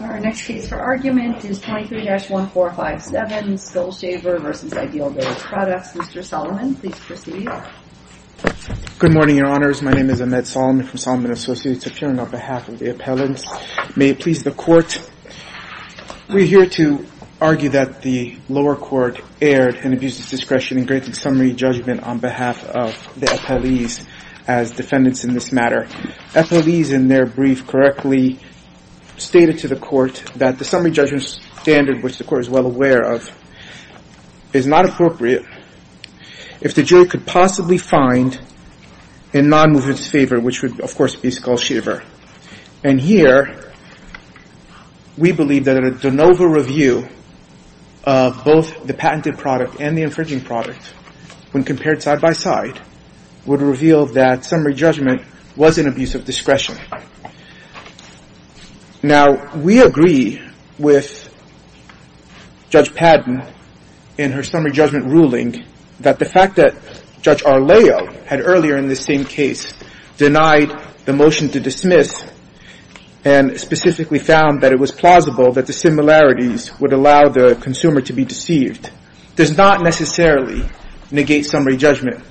Our next case for argument is 23-1457 Skull Shaver v. Ideavillage Products. Mr. Solomon, please proceed. Good morning, Your Honors. My name is Ahmed Solomon from Solomon & Associates, appearing on behalf of the appellants. May it please the Court, we're here to argue that the lower court erred and abused its discretion in granting summary judgment on behalf of the appellees as defendants in this matter. The appellees in their brief correctly stated to the Court that the summary judgment standard, which the Court is well aware of, is not appropriate. If the jury could possibly find in non-movement's favor, which would, of course, be Skull Shaver. And here, we believe that a de novo review of both the patented product and the infringing product, when compared side-by-side, would reveal that summary judgment was an abuse of discretion. Now, we agree with Judge Padden in her summary judgment ruling that the fact that Judge Arleo had earlier in this same case denied the motion to dismiss and specifically found that it was plausible that the similarities would allow the consumer to be deceived does not necessarily negate summary judgment.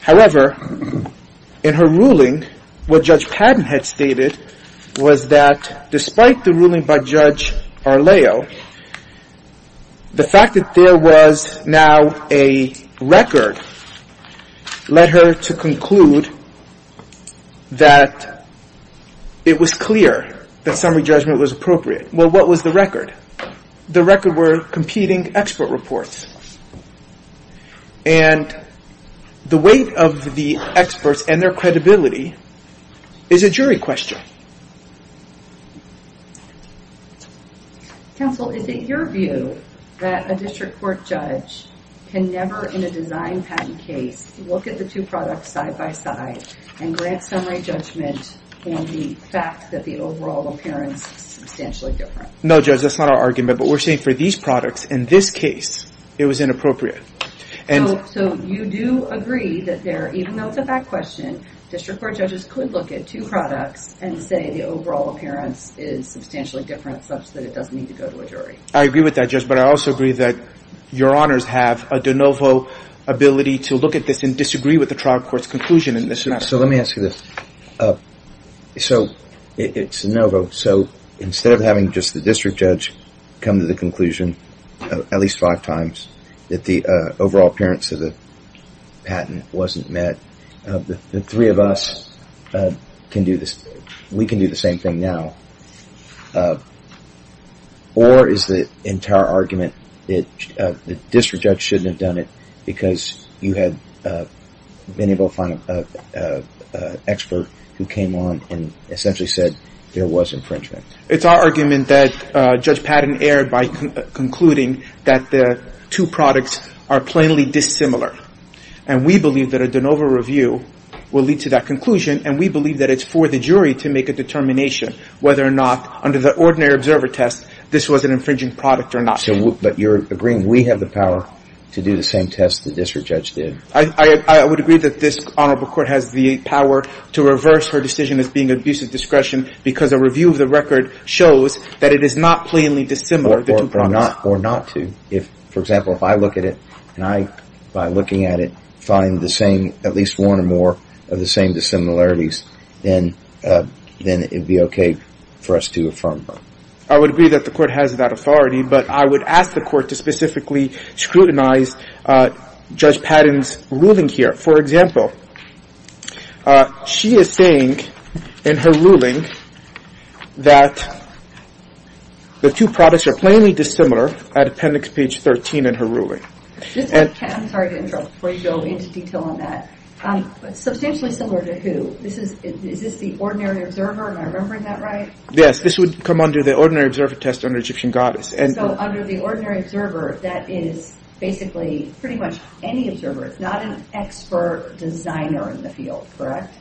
However, in her ruling, what Judge Padden had stated was that despite the ruling by Judge Arleo, the fact that there was now a record led her to conclude that it was clear that summary judgment was appropriate. Well, what was the record? The record were competing expert reports. And the weight of the experts and their credibility is a jury question. Counsel, is it your view that a district court judge can never, in a design patent case, look at the two products side-by-side and grant summary judgment on the fact that the overall appearance is substantially different? No, Judge, that's not our argument, but we're saying for these products, in this case, it was inappropriate. So you do agree that there, even though it's a fact question, district court judges could look at two products and say the overall appearance is substantially different such that it doesn't need to go to a jury? I agree with that, Judge, but I also agree that your honors have a de novo ability to look at this and disagree with the trial court's conclusion in this regard. So let me ask you this. So it's a de novo. So instead of having just the district judge come to the conclusion at least five times that the overall appearance of the patent wasn't met, the three of us can do this. We can do the same thing now, or is the entire argument that the district judge shouldn't have done it because you had been able to find an expert who came on and essentially said there was infringement? It's our argument that Judge Patton erred by concluding that the two products are plainly dissimilar. And we believe that a de novo review will lead to that conclusion, and we believe that it's for the jury to make a determination whether or not, under the ordinary observer test, this was an infringing product or not. But you're agreeing we have the power to do the same test the district judge did? I would agree that this honorable court has the power to reverse her decision as being abusive discretion because a review of the record shows that it is not plainly dissimilar. Or not to. For example, if I look at it and I, by looking at it, find the same, at least one or more of the same dissimilarities, then it would be okay for us to affirm her. I would agree that the court has that authority, but I would ask the court to specifically scrutinize Judge Patton's ruling here. For example, she is saying in her ruling that the two products are plainly dissimilar at appendix page 13 in her ruling. I'm sorry to interrupt before you go into detail on that. Substantially similar to who? Is this the ordinary observer? Am I remembering that right? Yes. This would come under the ordinary observer test under Egyptian goddess. So under the ordinary observer, that is basically pretty much any observer. It's not an expert designer in the field, correct?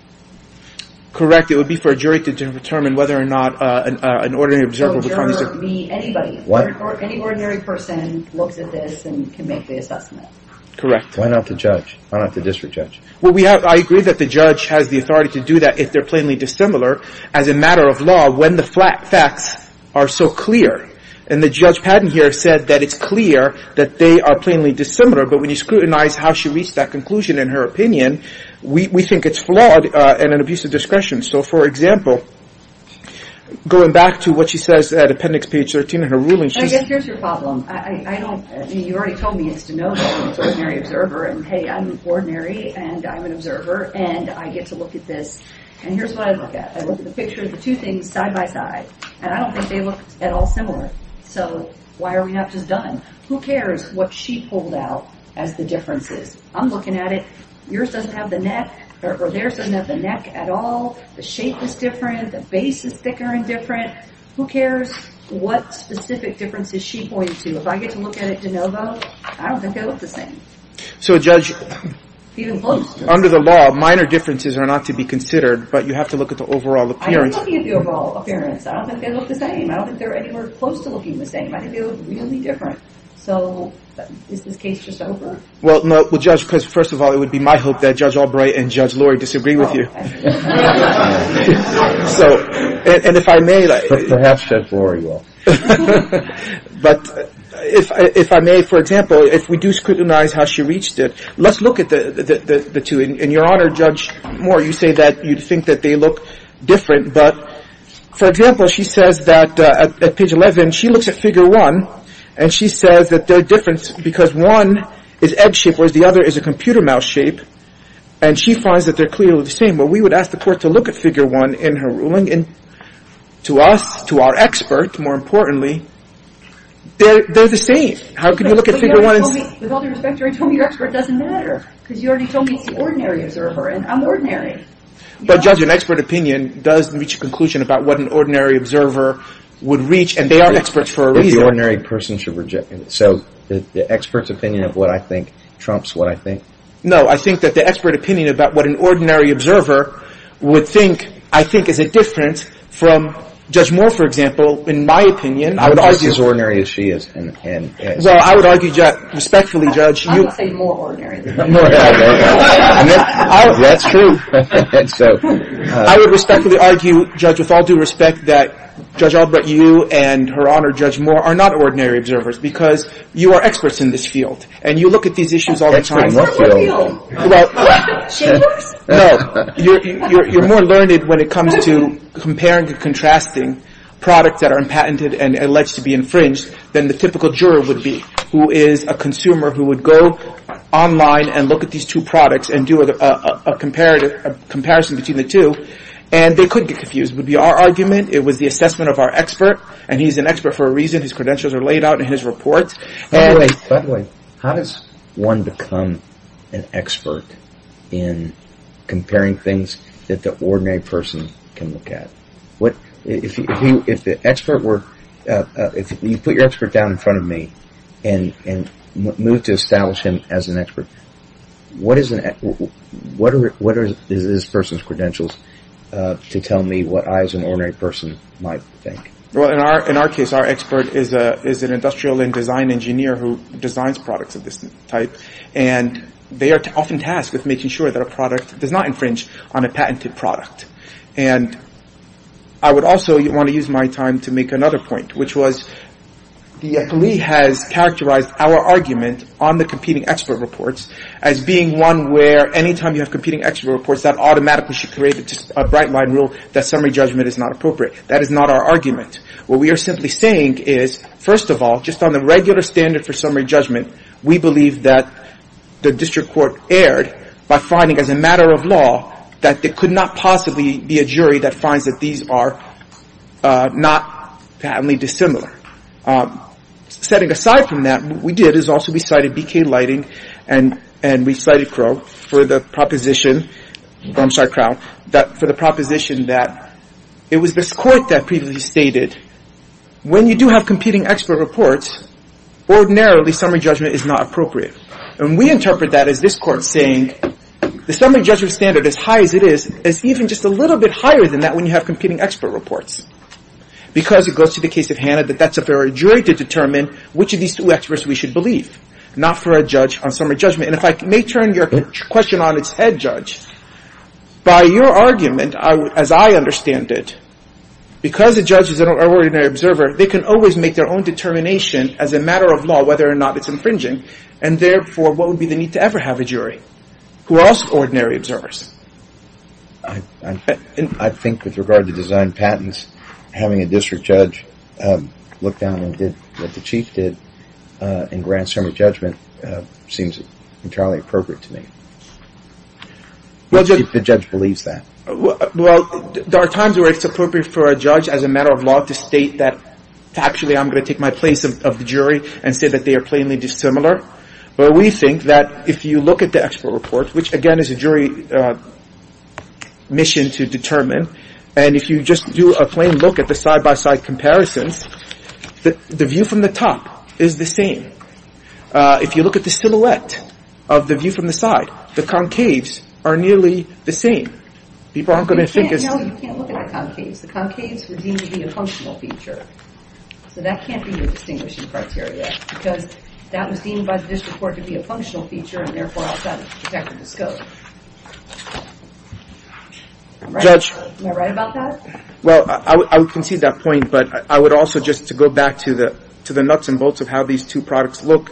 Correct. It would be for a jury to determine whether or not an ordinary observer would find the same. So a jury would be anybody. What? Any ordinary person looks at this and can make the assessment. Correct. Why not the judge? Why not the district judge? Well, I agree that the judge has the authority to do that if they're plainly dissimilar as a matter of law when the facts are so clear. And the Judge Patton here said that it's clear that they are plainly dissimilar. But when you scrutinize how she reached that conclusion in her opinion, we think it's flawed and an abuse of discretion. So, for example, going back to what she says at appendix page 13 in her ruling. I guess here's your problem. You already told me it's to know that I'm an ordinary observer. And, hey, I'm ordinary and I'm an observer and I get to look at this. And here's what I look at. I look at the picture of the two things side by side. And I don't think they look at all similar. So why are we not just done? Who cares what she pulled out as the differences? I'm looking at it. Yours doesn't have the neck or theirs doesn't have the neck at all. The shape is different. The base is thicker and different. Who cares what specific differences she points to? If I get to look at it de novo, I don't think they look the same. So, Judge, under the law, minor differences are not to be considered. But you have to look at the overall appearance. I'm not looking at the overall appearance. I don't think they look the same. I don't think they're anywhere close to looking the same. I think they look really different. So is this case just over? Well, Judge, first of all, it would be my hope that Judge Albright and Judge Lori disagree with you. So, and if I may. Perhaps Judge Lori will. But if I may, for example, if we do scrutinize how she reached it, let's look at the two. And, Your Honor, Judge Moore, you say that you think that they look different. But, for example, she says that at page 11, she looks at figure one, and she says that they're different because one is egg-shaped whereas the other is a computer mouse shape. And she finds that they're clearly the same. Well, we would ask the court to look at figure one in her ruling. And to us, to our expert, more importantly, they're the same. How can you look at figure one and say… With all due respect, you already told me your expert doesn't matter because you already told me it's the ordinary observer, and I'm ordinary. But, Judge, an expert opinion does reach a conclusion about what an ordinary observer would reach, and they are experts for a reason. If the ordinary person should reject it. So the expert's opinion of what I think trumps what I think. No, I think that the expert opinion about what an ordinary observer would think, I think, is a difference from Judge Moore, for example, in my opinion. I would say it's as ordinary as she is. Well, I would argue respectfully, Judge. I would say more ordinary. That's true. I would respectfully argue, Judge, with all due respect, that Judge Albrecht, you, and, Your Honor, Judge Moore, are not ordinary observers because you are experts in this field. And you look at these issues all the time. That's true. What do you all know? Well… Shameless? No. You're more learned when it comes to comparing and contrasting products that are unpatented and alleged to be infringed than the typical juror would be, who is a consumer who would go online and look at these two products and do a comparison between the two. And they couldn't get confused. It would be our argument. It was the assessment of our expert. And he's an expert for a reason. His credentials are laid out in his reports. By the way, how does one become an expert in comparing things that the ordinary person can look at? If you put your expert down in front of me and move to establish him as an expert, what is this person's credentials to tell me what I, as an ordinary person, might think? Well, in our case, our expert is an industrial and design engineer who designs products of this type. And they are often tasked with making sure that a product does not infringe on a patented product. And I would also want to use my time to make another point, which was the affilee has characterized our argument on the competing expert reports as being one where any time you have competing expert reports, that automatically should create a bright-line rule that summary judgment is not appropriate. That is not our argument. What we are simply saying is, first of all, just on the regular standard for summary judgment, we believe that the district court erred by finding, as a matter of law, that there could not possibly be a jury that finds that these are not patently dissimilar. Setting aside from that, what we did is also we cited BK Lighting and we cited Crow for the proposition, I'm sorry, Crow, for the proposition that it was this court that previously stated, when you do have competing expert reports, ordinarily summary judgment is not appropriate. And we interpret that as this court saying the summary judgment standard, as high as it is, is even just a little bit higher than that when you have competing expert reports. Because it goes to the case of Hanna that that's up to our jury to determine which of these two experts we should believe, not for a judge on summary judgment. And if I may turn your question on its head, Judge, by your argument, as I understand it, because a judge is an ordinary observer, they can always make their own determination, as a matter of law, whether or not it's infringing. And therefore, what would be the need to ever have a jury who are also ordinary observers? I think with regard to design patents, having a district judge look down on what the chief did in grand summary judgment seems entirely appropriate to me. The judge believes that. Well, there are times where it's appropriate for a judge, as a matter of law, to state that factually I'm going to take my place of the jury and say that they are plainly dissimilar. But we think that if you look at the expert report, which, again, is a jury mission to determine, and if you just do a plain look at the side-by-side comparisons, the view from the top is the same. If you look at the silhouette of the view from the side, the concaves are nearly the same. People aren't going to think it's – No, you can't look at the concaves. The concaves were deemed to be a functional feature. So that can't be your distinguishing criteria, because that was deemed by the district court to be a functional feature and, therefore, outside of the detective's scope. Judge. Am I right about that? Well, I would concede that point, but I would also, just to go back to the nuts and bolts of how these two products look,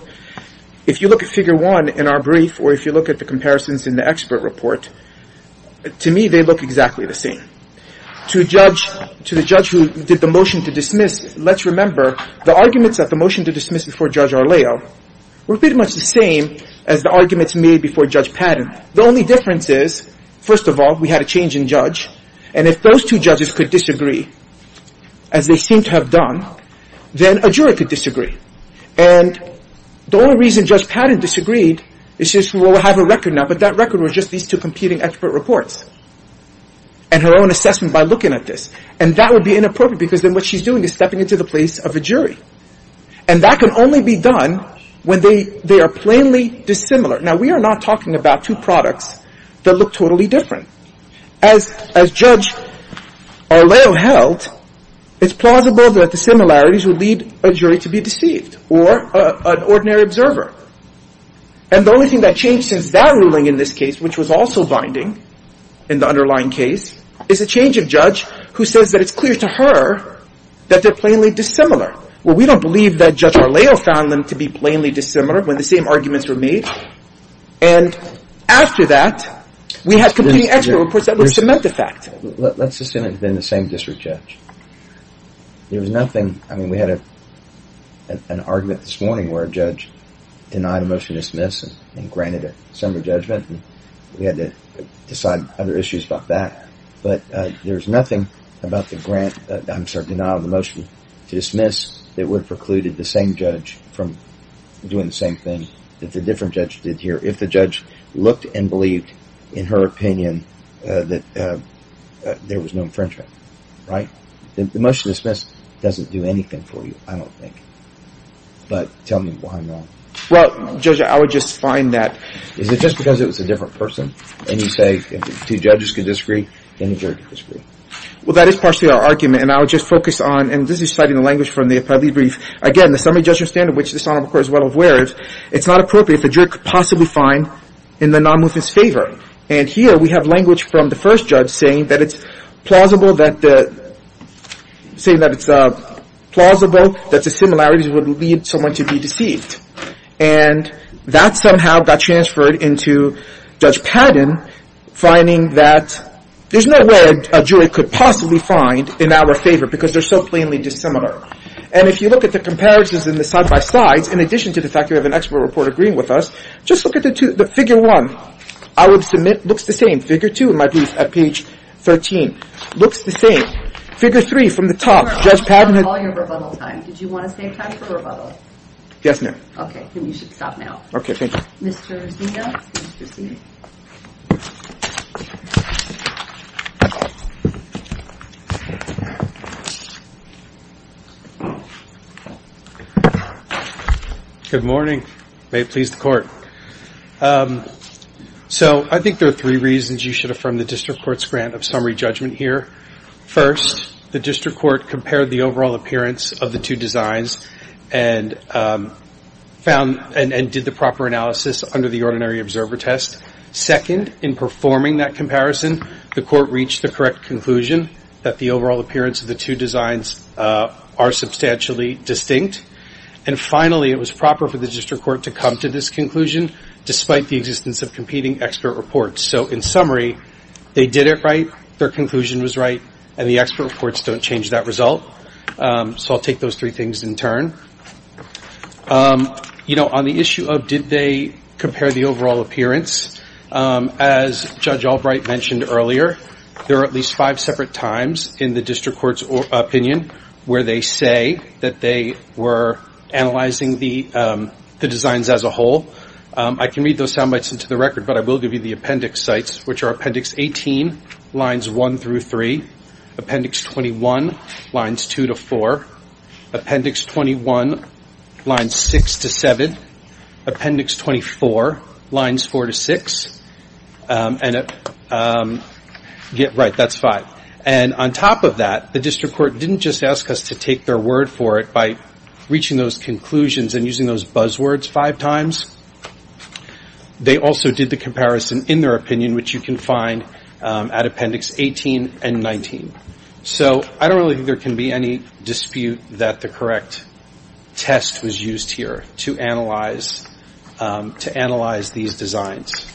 if you look at figure one in our brief or if you look at the comparisons in the expert report, to me, they look exactly the same. To the judge who did the motion to dismiss, let's remember the arguments at the motion to dismiss before Judge Arleo were pretty much the same as the arguments made before Judge Padden. The only difference is, first of all, we had a change in judge, and if those two judges could disagree, as they seem to have done, then a jury could disagree. And the only reason Judge Padden disagreed is just, well, we'll have a record now, but that record was just these two competing expert reports and her own assessment by looking at this. And that would be inappropriate, because then what she's doing is stepping into the place of a jury. And that can only be done when they are plainly dissimilar. Now, we are not talking about two products that look totally different. As Judge Arleo held, it's plausible that the similarities would lead a jury to be deceived or an ordinary observer. And the only thing that changed since that ruling in this case, which was also binding in the underlying case, is a change of judge who says that it's clear to her that they're plainly dissimilar. Well, we don't believe that Judge Arleo found them to be plainly dissimilar when the same arguments were made. And after that, we had competing expert reports that were cement the fact. Let's assume it had been the same district judge. There was nothing – I mean, we had an argument this morning where a judge denied a motion to dismiss and granted a summary judgment, and we had to decide other issues about that. But there was nothing about the grant – I'm sorry, denial of the motion to dismiss – that would have precluded the same judge from doing the same thing that the different judge did here if the judge looked and believed in her opinion that there was no infringement, right? The motion to dismiss doesn't do anything for you, I don't think. But tell me why not. Well, Judge, I would just find that – Is it just because it was a different person? And you say if the two judges could disagree, then the jury could disagree. Well, that is partially our argument, and I would just focus on – and this is citing the language from the Appellee Brief. Again, the summary judgment standard, which this Honorable Court is well aware of, it's not appropriate if the jury could possibly find in the nonmovement's favor. And here we have language from the first judge saying that it's plausible that the – saying that it's plausible that the similarities would lead someone to be deceived. And that somehow got transferred into Judge Padden finding that there's no way a jury could possibly find in our favor because they're so plainly dissimilar. And if you look at the comparisons in the side-by-sides, in addition to the fact that we have an expert report agreeing with us, just look at the figure one. I would submit – looks the same. Figure two in my brief at page 13. Looks the same. Figure three from the top. Judge Padden had – Your Honor, on the volume of rebuttal time, did you want to save time for the rebuttal? Yes, ma'am. Okay, then you should stop now. Okay, thank you. Mr. Zia, please proceed. Good morning. May it please the Court. So I think there are three reasons you should affirm the district court's grant of summary judgment here. First, the district court compared the overall appearance of the two designs and found – and did the proper analysis under the ordinary observer test. Second, in performing that comparison, the court reached the correct conclusion that the overall appearance of the two designs are substantially distinct. And finally, it was proper for the district court to come to this conclusion despite the existence of competing expert reports. So in summary, they did it right, their conclusion was right, and the expert reports don't change that result. So I'll take those three things in turn. On the issue of did they compare the overall appearance, as Judge Albright mentioned earlier, there are at least five separate times in the district court's opinion where they say that they were analyzing the designs as a whole. I can read those sound bites into the record, but I will give you the appendix sites, which are appendix 18, lines 1 through 3, appendix 21, lines 2 to 4, appendix 21, lines 6 to 7, appendix 24, lines 4 to 6, and – right, that's five. And on top of that, the district court didn't just ask us to take their word for it by reaching those conclusions and using those buzzwords five times. They also did the comparison in their opinion, which you can find at appendix 18 and 19. So I don't really think there can be any dispute that the correct test was used here to analyze these designs.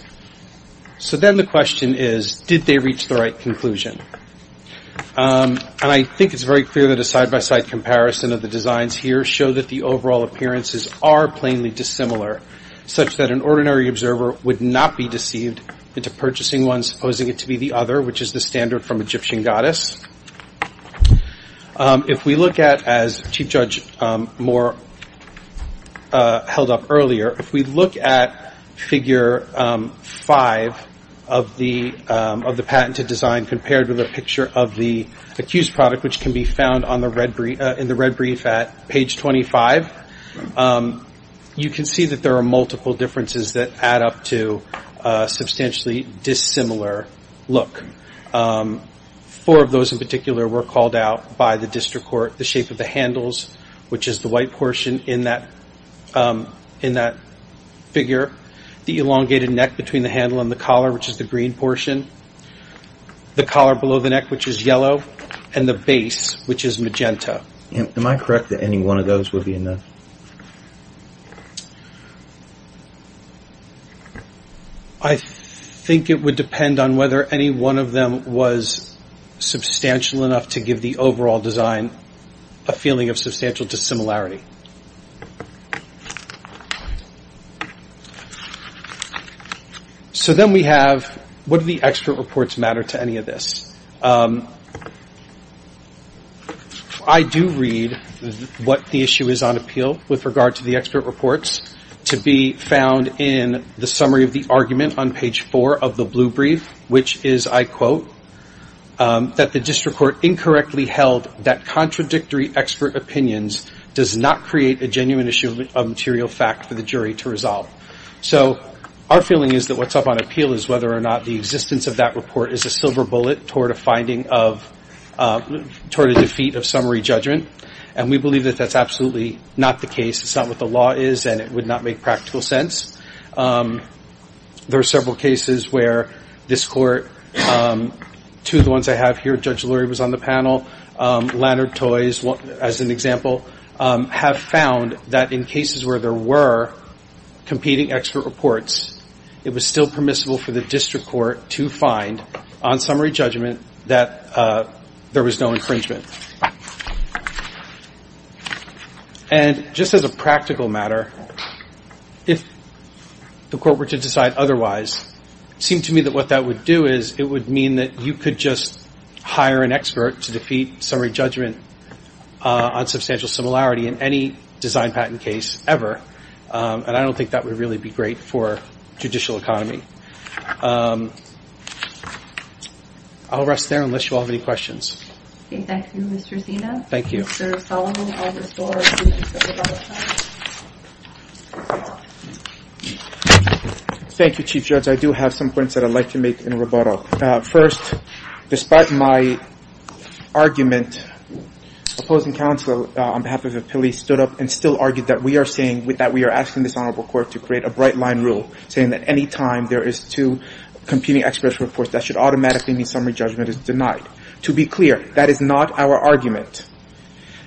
So then the question is, did they reach the right conclusion? And I think it's very clear that a side-by-side comparison of the designs here does show that the overall appearances are plainly dissimilar, such that an ordinary observer would not be deceived into purchasing one, supposing it to be the other, which is the standard from Egyptian goddess. If we look at, as Chief Judge Moore held up earlier, if we look at figure 5 of the patented design compared with a picture of the accused product, which can be found in the red brief at page 25, you can see that there are multiple differences that add up to a substantially dissimilar look. Four of those in particular were called out by the district court. The shape of the handles, which is the white portion in that figure. The elongated neck between the handle and the collar, which is the green portion. The collar below the neck, which is yellow. And the base, which is magenta. Am I correct that any one of those would be enough? I think it would depend on whether any one of them was substantial enough to give the overall design a feeling of substantial dissimilarity. So then we have, what do the expert reports matter to any of this? I do read what the issue is on appeal with regard to the expert reports to be found in the summary of the argument on page 4 of the blue brief, which is, I quote, that the district court incorrectly held that contradictory expert opinions does not create a genuine issue of material fact for the jury to resolve. So our feeling is that what's up on appeal is whether or not the existence of that report is a silver bullet toward a finding of, toward a defeat of summary judgment. And we believe that that's absolutely not the case. It's not what the law is, and it would not make practical sense. There are several cases where this court, two of the ones I have here, Judge Lurie was on the panel, Leonard Toys as an example, have found that in cases where there were competing expert reports, it was still permissible for the district court to find on summary judgment that there was no infringement. And just as a practical matter, if the court were to decide otherwise, it seemed to me that what that would do is it would mean that you could just hire an expert to defeat summary judgment on substantial similarity in any design patent case ever, and I don't think that would really be great for judicial economy. I'll rest there unless you all have any questions. Okay, thank you, Mr. Zeno. Thank you. Mr. Solomon, I'll restore to the panel. Thank you, Chief Judge. I do have some points that I'd like to make in rebuttal. First, despite my argument, opposing counsel on behalf of the police stood up and still argued that we are saying, that we are asking this honorable court to create a bright line rule saying that any time there is two competing expert reports, that should automatically mean summary judgment is denied. To be clear, that is not our argument.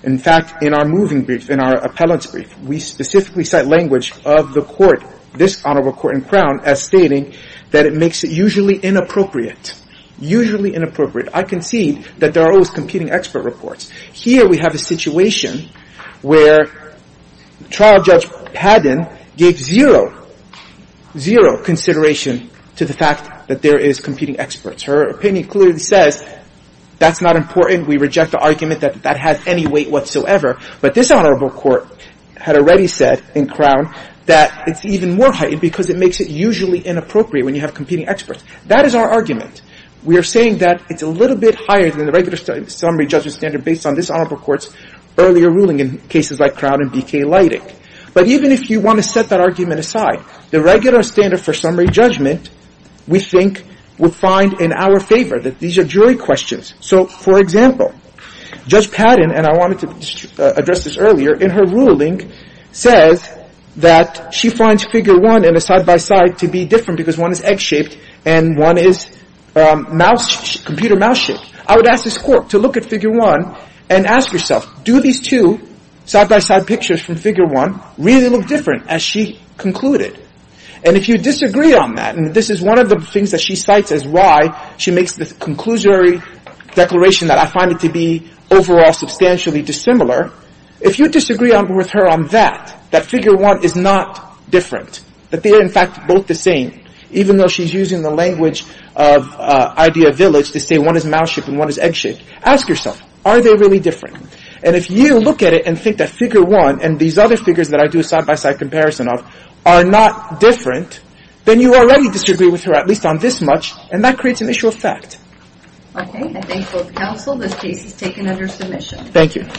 In fact, in our moving brief, in our appellant's brief, we specifically cite language of the court, this honorable court in Crown, as stating that it makes it usually inappropriate. Usually inappropriate. I concede that there are always competing expert reports. Here we have a situation where trial judge Padden gave zero, zero consideration to the fact that there is competing experts. Her opinion clearly says that's not important. We reject the argument that that has any weight whatsoever. But this honorable court had already said in Crown that it's even more heightened because it makes it usually inappropriate when you have competing experts. That is our argument. We are saying that it's a little bit higher than the regular summary judgment standard based on this honorable court's earlier ruling in cases like Crown and BK Leidig. But even if you want to set that argument aside, the regular standard for summary judgment we think would find in our favor. These are jury questions. So, for example, Judge Padden, and I wanted to address this earlier, in her ruling says that she finds figure one in a side-by-side to be different because one is egg-shaped and one is mouse, computer mouse-shaped. I would ask this court to look at figure one and ask yourself, do these two side-by-side pictures from figure one really look different as she concluded? And if you disagree on that, and this is one of the things that she cites as why she makes the conclusory declaration that I find it to be overall substantially dissimilar, if you disagree with her on that, that figure one is not different, that they are, in fact, both the same, even though she's using the language of idea village to say one is mouse-shaped and one is egg-shaped, ask yourself, are they really different? And if you look at it and think that figure one and these other figures that I do a side-by-side comparison of are not different, then you already disagree with her, at least on this much, and that creates an issue of fact. Okay. I thank both counsel. This case is taken under submission. Thank you.